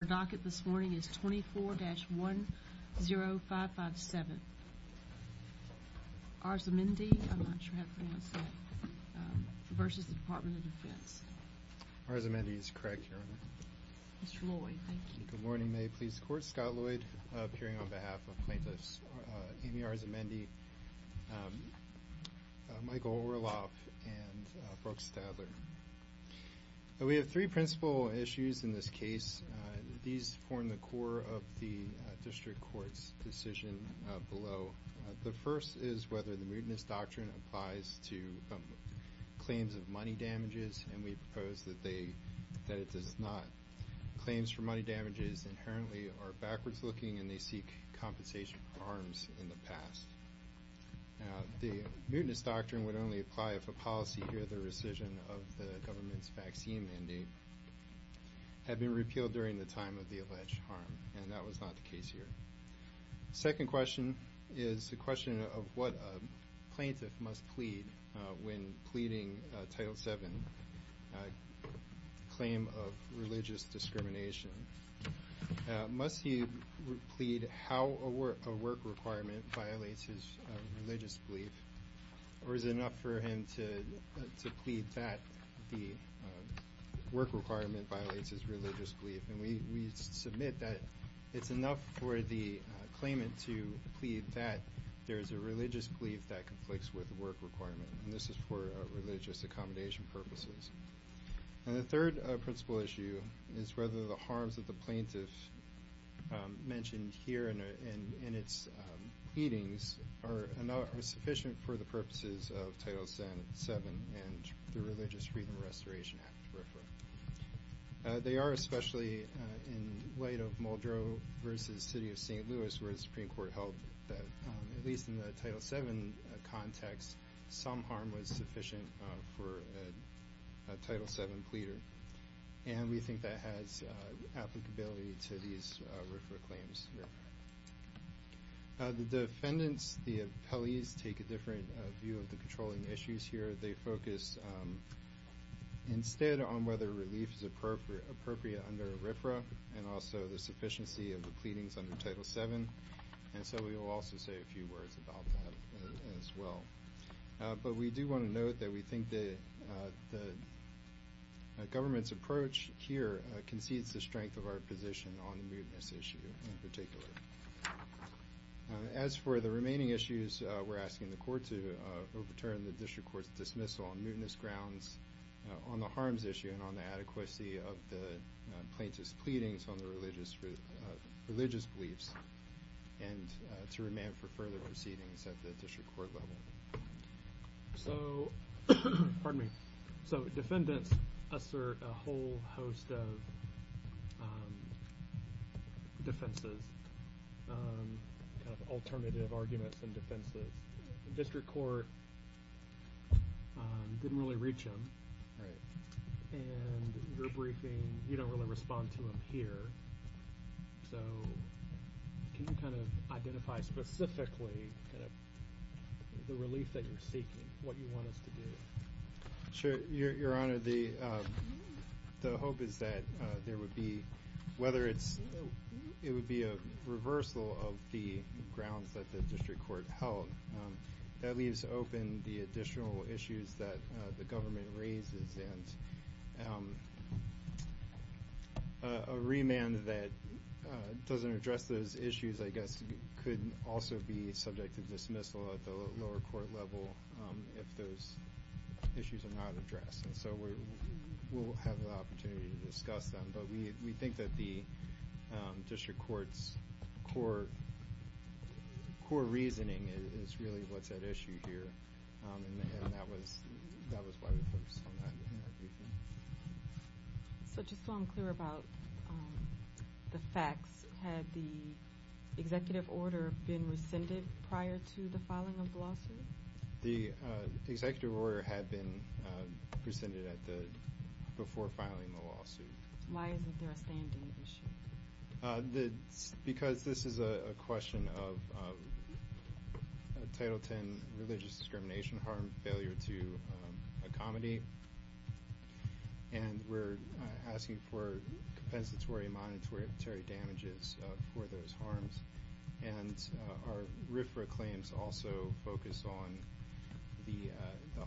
The docket this morning is 24-10557. Arzamendi, I'm not sure how to pronounce that, versus the Department of Defense. Arzamendi is correct, Your Honor. Mr. Lloyd, thank you. Good morning, May Police Court. Scott Lloyd appearing on behalf of plaintiffs Amy Arzamendi, Michael Orloff, and Brooke Stadler. We have three principal issues in this case. These form the core of the District Court's decision below. The first is whether the Mutinous Doctrine applies to claims of money damages, and we propose that it does not. Claims for money damages inherently are backwards looking, and they seek compensation for harms in the past. The Mutinous Doctrine would only apply if a policy or the rescission of the government's vaccine mandate had been repealed during the time of the alleged harm, and that was not the case here. Second question is the question of what a plaintiff must plead when pleading Title VII claim of religious discrimination. Must he plead how a work requirement violates his religious belief, or is it enough for him to plead that the work requirement violates his religious belief? And we submit that it's enough for the claimant to plead that there is a religious belief that conflicts with the work requirement, and this is for religious accommodation purposes. And the third principal issue is whether the harms that the plaintiff mentioned here in its pleadings are sufficient for the purposes of Title VII and the Religious Freedom Restoration Act. They are, especially in light of Muldrow v. City of St. Louis, where the Supreme Court held that at least in the Title VII context, some harm was sufficient for a Title VII pleader, and we think that has applicability to these RFRA claims. The defendants, the appellees, take a different view of the controlling issues here. They focus instead on whether relief is appropriate under RFRA and also the sufficiency of the pleadings under Title VII, and so we will also say a few words about that as well. But we do want to note that we think the government's approach here concedes the strength of our position on the mootness issue in particular. As for the remaining issues, we're asking the court to overturn the district court's dismissal on mootness grounds, on the harms issue and on the adequacy of the plaintiff's pleadings on the religious beliefs, and to remand for further proceedings at the district court level. So defendants assert a whole host of defenses, alternative arguments and defenses. The district court didn't really reach him, and your briefing, you don't really respond to him here. So can you kind of identify specifically the relief that you're seeking, what you want us to do? Sure, Your Honor. The hope is that there would be, whether it would be a reversal of the grounds that the district court held, that leaves open the additional issues that the government raises, and a remand that doesn't address those issues, I guess, could also be subject to dismissal at the lower court level if those issues are not addressed. And so we'll have the opportunity to discuss them, but we think that the district court's core reasoning is really what's at issue here, and that was why we focused on that in our briefing. So just so I'm clear about the facts, had the executive order been rescinded prior to the filing of the lawsuit? The executive order had been rescinded before filing the lawsuit. Why isn't there a stand-in issue? Because this is a question of Title X religious discrimination harm failure to accommodate, and we're asking for compensatory monetary damages for those harms. And our RFRA claims also focus on the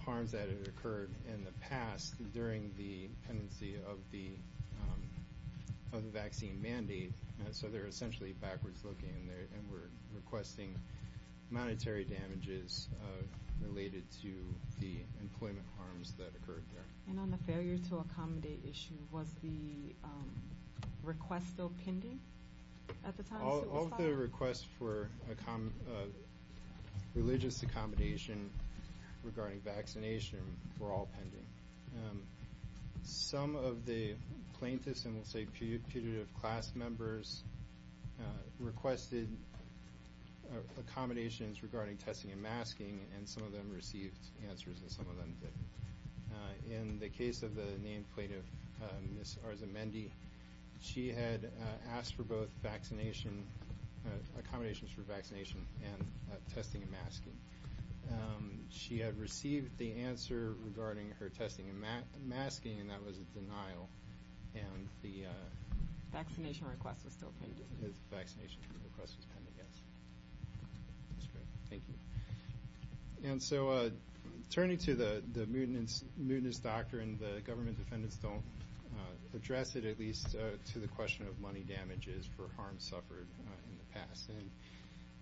harms that have occurred in the past during the pendency of the vaccine mandate, so they're essentially backwards looking, and we're requesting monetary damages related to the employment harms that occurred there. And on the failure to accommodate issue, was the request still pending at the time it was filed? Both the request for religious accommodation regarding vaccination were all pending. Some of the plaintiffs, and we'll say putative class members, requested accommodations regarding testing and masking, and some of them received answers and some of them didn't. In the case of the named plaintiff, Ms. Arzamendi, she had asked for both accommodations for vaccination and testing and masking. She had received the answer regarding her testing and masking, and that was a denial. And the vaccination request was still pending. The vaccination request was pending, yes. That's great. Thank you. And so turning to the mutinous doctrine, the government defendants don't address it, at least to the question of money damages for harms suffered in the past. And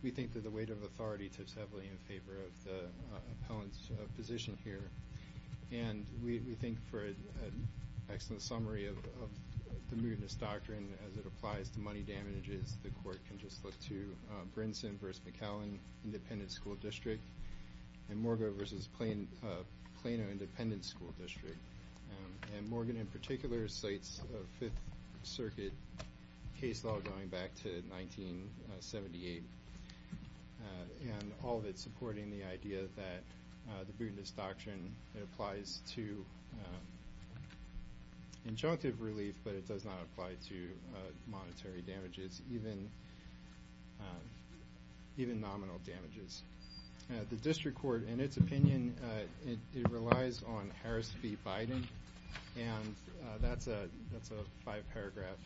we think that the weight of authority tips heavily in favor of the appellant's position here, and we think for an excellent summary of the mutinous doctrine as it applies to money damages, the court can just look to Brinson v. McAllen, Independent School District, and Morgan v. Plano, Independent School District. And Morgan in particular cites Fifth Circuit case law going back to 1978, and all of it supporting the idea that the mutinous doctrine applies to injunctive relief, but it does not apply to monetary damages, even nominal damages. The district court, in its opinion, it relies on Harris v. Biden, and that's a five-paragraph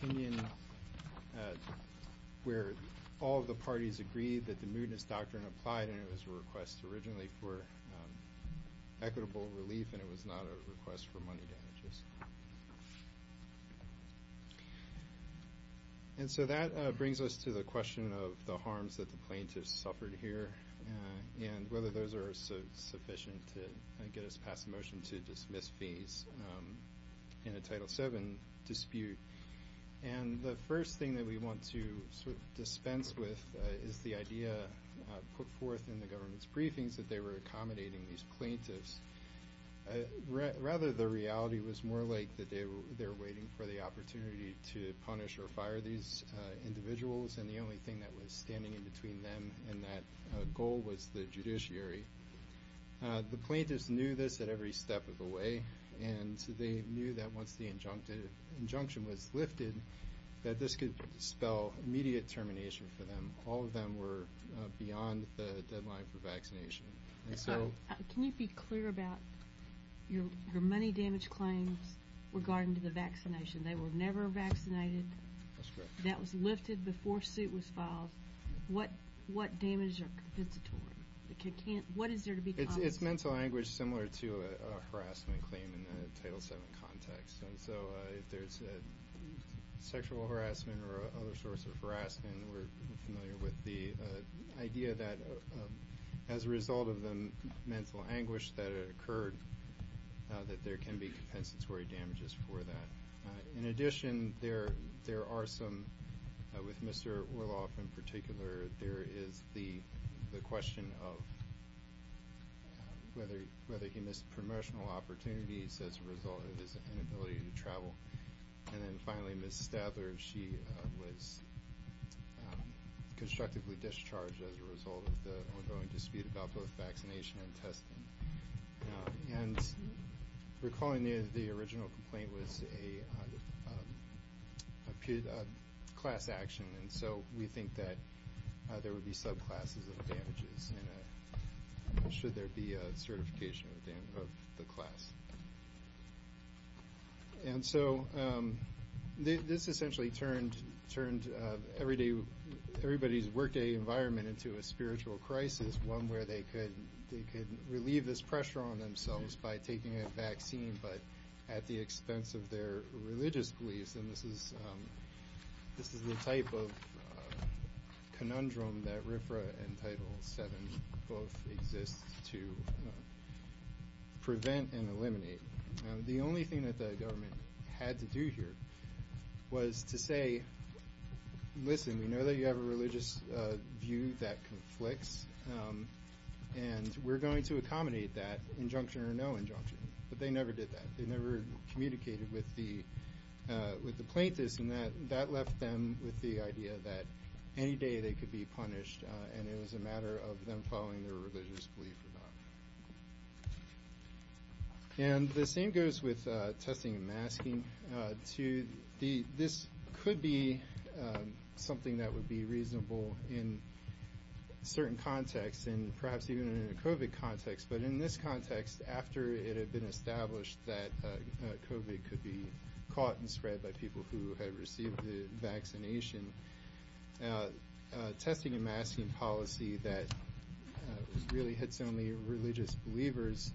opinion where all of the parties agree that the mutinous doctrine applied, and it was a request originally for equitable relief, and it was not a request for money damages. And so that brings us to the question of the harms that the plaintiffs suffered here and whether those are sufficient to get us past the motion to dismiss fees in a Title VII dispute. And the first thing that we want to sort of dispense with is the idea put forth in the government's briefings that they were accommodating these plaintiffs. Rather, the reality was more like that they were waiting for the opportunity to punish or fire these individuals, and the only thing that was standing in between them and that goal was the judiciary. The plaintiffs knew this at every step of the way, and they knew that once the injunction was lifted that this could spell immediate termination for them. All of them were beyond the deadline for vaccination. Can you be clear about your money damage claims regarding the vaccination? They were never vaccinated. That's correct. That was lifted before suit was filed. What damages are compensatory? What is there to be compensated for? It's mental anguish similar to a harassment claim in a Title VII context. And so if there's sexual harassment or other sorts of harassment, we're familiar with the idea that as a result of the mental anguish that occurred, that there can be compensatory damages for that. In addition, there are some, with Mr. Orloff in particular, there is the question of whether he missed promotional opportunities as a result of his inability to travel. And then finally, Ms. Stadler, she was constructively discharged as a result of the ongoing dispute about both vaccination and testing. And recalling the original complaint was a class action, and so we think that there would be subclasses of damages should there be a certification of the class. And so this essentially turned everybody's workday environment into a spiritual crisis, one where they could relieve this pressure on themselves by taking a vaccine, but at the expense of their religious beliefs. And this is the type of conundrum that RFRA and Title VII both exist to prevent and eliminate. The only thing that the government had to do here was to say, listen, we know that you have a religious view that conflicts, and we're going to accommodate that injunction or no injunction. But they never did that. They never communicated with the plaintiffs, and that left them with the idea that any day they could be punished, and it was a matter of them following their religious belief or not. And the same goes with testing and masking, too. This could be something that would be reasonable in certain contexts and perhaps even in a COVID context. But in this context, after it had been established that COVID could be caught and spread by people who had received the vaccination, testing and masking policy that really hits only religious believers,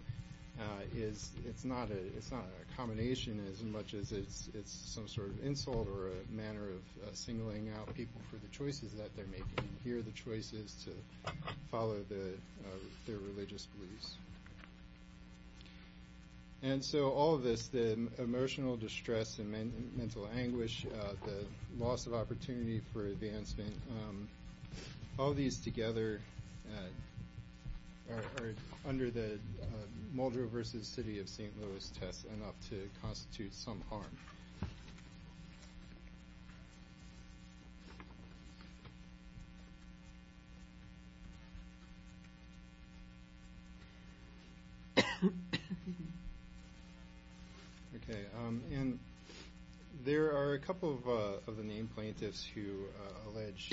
it's not a combination as much as it's some sort of insult or a manner of singling out people for the choices that they're making. Here are the choices to follow their religious beliefs. And so all of this, the emotional distress and mental anguish, the loss of opportunity for advancement, all these together are under the Muldrow v. City of St. Louis test enough to constitute some harm. Okay. And there are a couple of the named plaintiffs who allege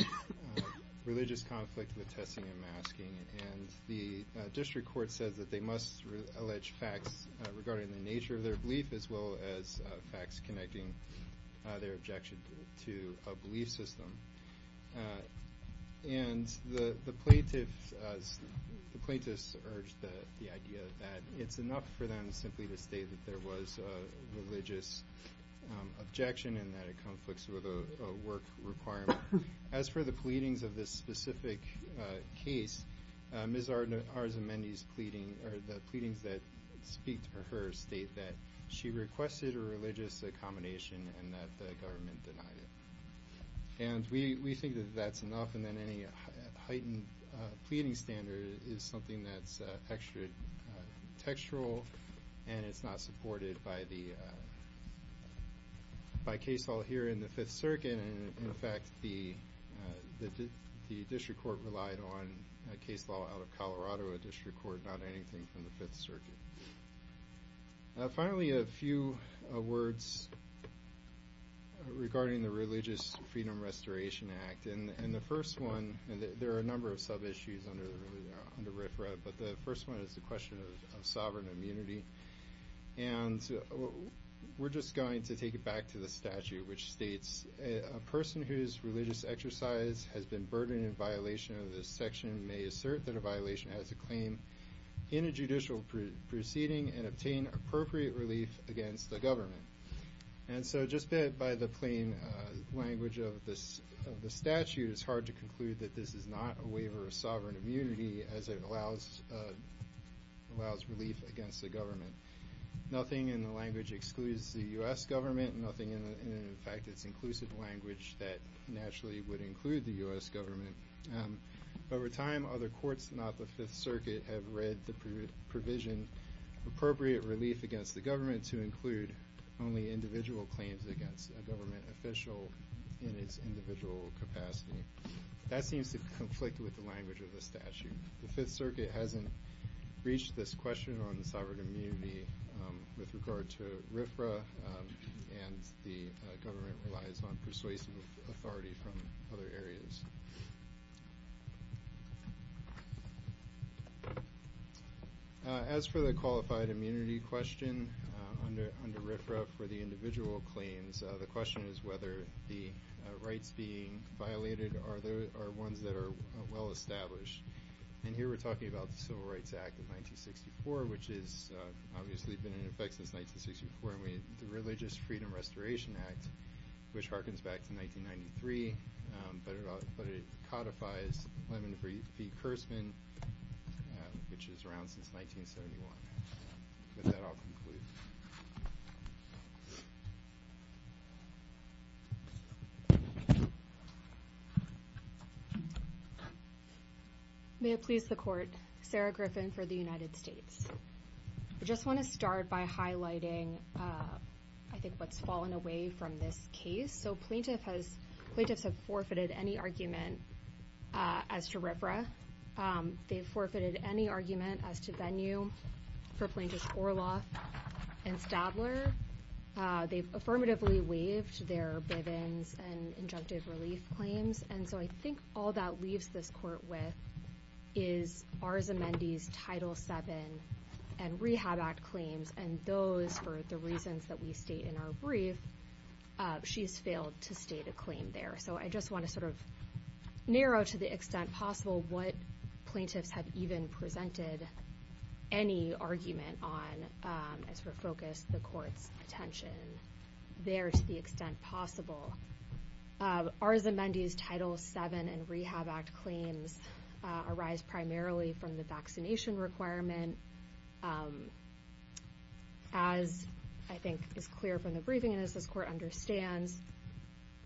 religious conflict with testing and masking, and the district court says that they must allege facts regarding the nature of their belief as well as facts connecting their objection to a belief system. And the plaintiffs urge the idea that it's enough for them simply to state that there was a religious objection and that it conflicts with a work requirement. As for the pleadings of this specific case, Ms. Arzamendi's pleading or the pleadings that speak to her state that she requested a religious accommodation and that the government denied it. And we think that that's enough and that any heightened pleading standard is something that's extra textual and it's not supported by case law here in the Fifth Circuit. And, in fact, the district court relied on a case law out of Colorado, a district court, not anything from the Fifth Circuit. Finally, a few words regarding the Religious Freedom Restoration Act. And the first one, and there are a number of sub-issues under RFRA, but the first one is the question of sovereign immunity. And we're just going to take it back to the statute, which states, a person whose religious exercise has been burdened in violation of this section may assert that a violation has a claim in a judicial proceeding and obtain appropriate relief against the government. And so just by the plain language of the statute, it's hard to conclude that this is not a waiver of sovereign immunity as it allows relief against the government. Nothing in the language excludes the U.S. government, nothing in, in fact, its inclusive language that naturally would include the U.S. government. Over time, other courts, not the Fifth Circuit, have read the provision, appropriate relief against the government to include only individual claims against a government official in its individual capacity. That seems to conflict with the language of the statute. The Fifth Circuit hasn't reached this question on sovereign immunity with regard to RFRA, and the government relies on persuasive authority from other areas. As for the qualified immunity question under RFRA for the individual claims, the question is whether the rights being violated are ones that are well-established. And here we're talking about the Civil Rights Act of 1964, which has obviously been in effect since 1964, and the Religious Freedom Restoration Act, which harkens back to 1993, but it codifies Lemon v. Kurtzman, which is around since 1971. With that, I'll conclude. May it please the Court. Sarah Griffin for the United States. I just want to start by highlighting, I think, what's fallen away from this case. So plaintiffs have forfeited any argument as to RFRA. They've forfeited any argument as to venue for Plaintiffs Orloff and Stadler. They've affirmatively waived their Bivens and injunctive relief claims. And so I think all that leaves this Court with is Arzamendi's Title VII and Rehab Act claims, and those, for the reasons that we state in our brief, she's failed to state a claim there. So I just want to sort of narrow, to the extent possible, what plaintiffs have even presented any argument on as we focus the Court's attention there, to the extent possible. Arzamendi's Title VII and Rehab Act claims arise primarily from the vaccination requirement. As I think is clear from the briefing, and as this Court understands,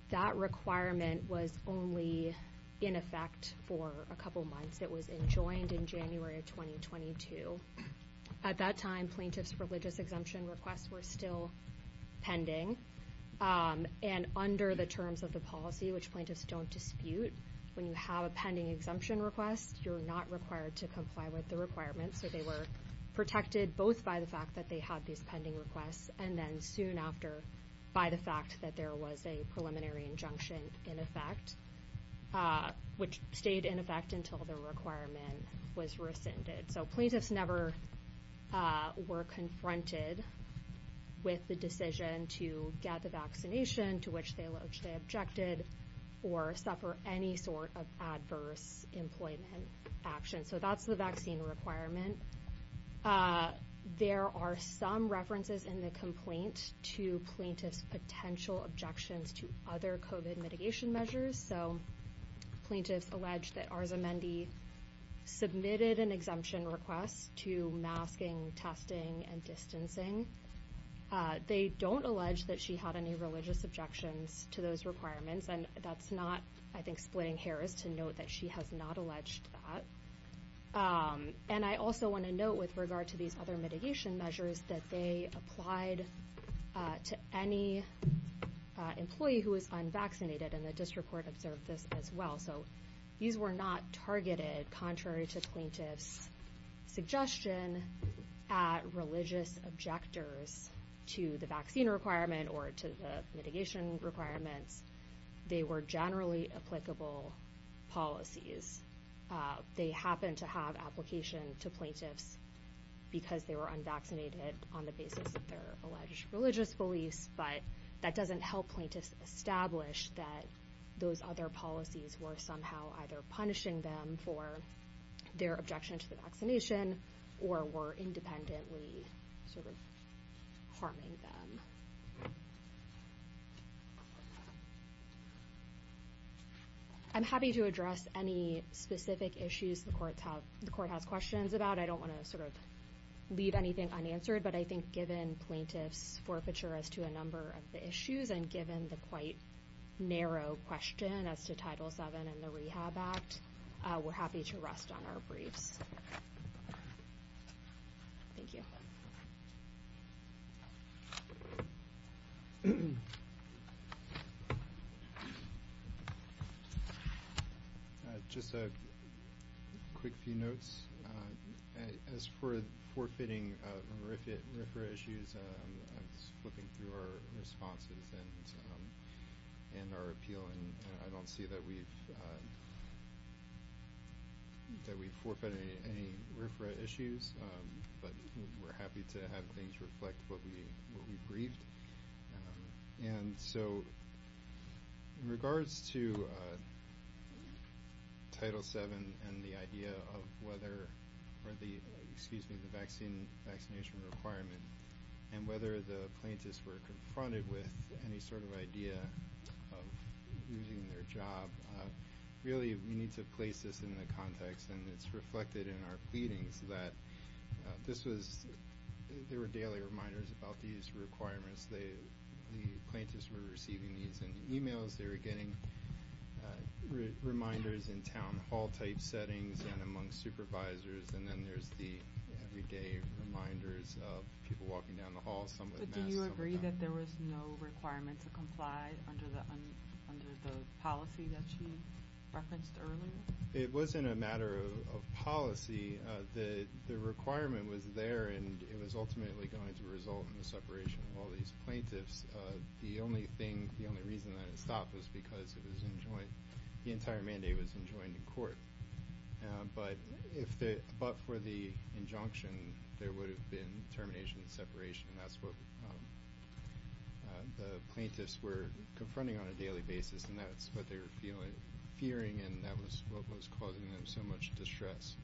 that requirement was only in effect for a couple months. It was enjoined in January of 2022. At that time, plaintiffs' religious exemption requests were still pending. And under the terms of the policy, which plaintiffs don't dispute, when you have a pending exemption request, you're not required to comply with the requirements. So they were protected both by the fact that they had these pending requests and then soon after by the fact that there was a preliminary injunction in effect, which stayed in effect until the requirement was rescinded. So plaintiffs never were confronted with the decision to get the vaccination, to which they objected, or suffer any sort of adverse employment action. So that's the vaccine requirement. There are some references in the complaint to plaintiffs' potential objections to other COVID mitigation measures. So plaintiffs allege that Arzamendi submitted an exemption request to masking, testing, and distancing. They don't allege that she had any religious objections to those requirements, and that's not, I think, splitting hairs to note that she has not alleged that. And I also want to note, with regard to these other mitigation measures, that they applied to any employee who is unvaccinated, and the district court observed this as well. So these were not targeted, contrary to plaintiffs' suggestion, at religious objectors to the vaccine requirement or to the mitigation requirements. They were generally applicable policies. They happen to have application to plaintiffs because they were unvaccinated on the basis of their alleged religious beliefs, but that doesn't help plaintiffs establish that those other policies were somehow either punishing them for their objection to the vaccination or were independently sort of harming them. I'm happy to address any specific issues the court has questions about. I don't want to sort of leave anything unanswered, but I think given plaintiffs' forfeiture as to a number of the issues and given the quite narrow question as to Title VII and the Rehab Act, we're happy to rest on our briefs. Thank you. Just a quick few notes. As for forfeiting RFRA issues, I'm just flipping through our responses and our appeal, and I don't see that we've forfeited any RFRA issues, but we're happy to have things reflect what we briefed. And so in regards to Title VII and the idea of whether the vaccination requirement and whether the plaintiffs were confronted with any sort of idea of losing their job, really we need to place this in the context, and it's reflected in our pleadings, that there were daily reminders about these requirements. The plaintiffs were receiving these in emails. They were getting reminders in town hall-type settings and among supervisors, and then there's the everyday reminders of people walking down the hall. But do you agree that there was no requirement to comply under the policy that she referenced earlier? It wasn't a matter of policy. The requirement was there, and it was ultimately going to result in the separation of all these plaintiffs. The only reason that it stopped was because the entire mandate was enjoined in court. But for the injunction, there would have been termination and separation, and that's what the plaintiffs were confronting on a daily basis, and that's what they were fearing, and that was what was causing them so much distress.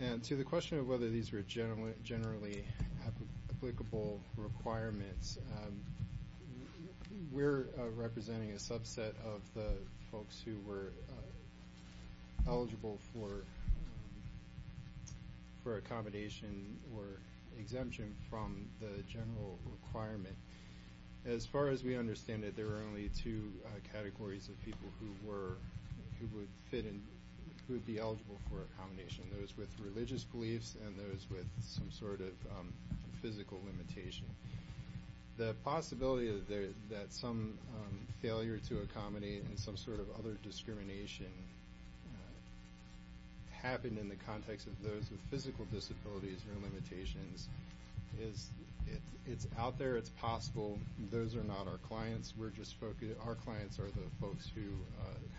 And to the question of whether these were generally applicable requirements, we're representing a subset of the folks who were eligible for accommodation or exemption from the general requirement. As far as we understand it, there are only two categories of people who would be eligible for accommodation, those with religious beliefs and those with some sort of physical limitation. The possibility that some failure to accommodate and some sort of other discrimination happened in the context of those with physical disabilities or limitations, it's out there, it's possible. Those are not our clients. Our clients are the folks who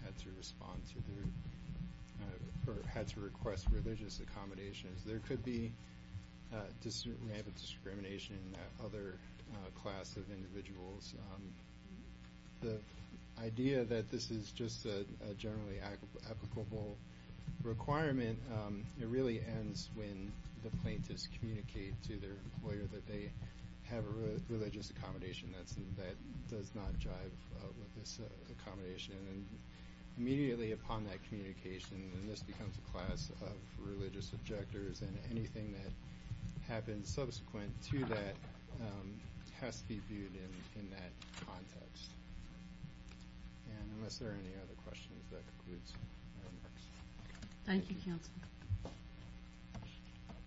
had to respond to or had to request religious accommodations. There could be rampant discrimination in that other class of individuals. The idea that this is just a generally applicable requirement, it really ends when the plaintiffs communicate to their employer that they have a religious accommodation that does not jive with this accommodation. And immediately upon that communication, this becomes a class of religious objectors, and anything that happens subsequent to that has to be viewed in that context. And unless there are any other questions, that concludes my remarks. Thank you, Kilton.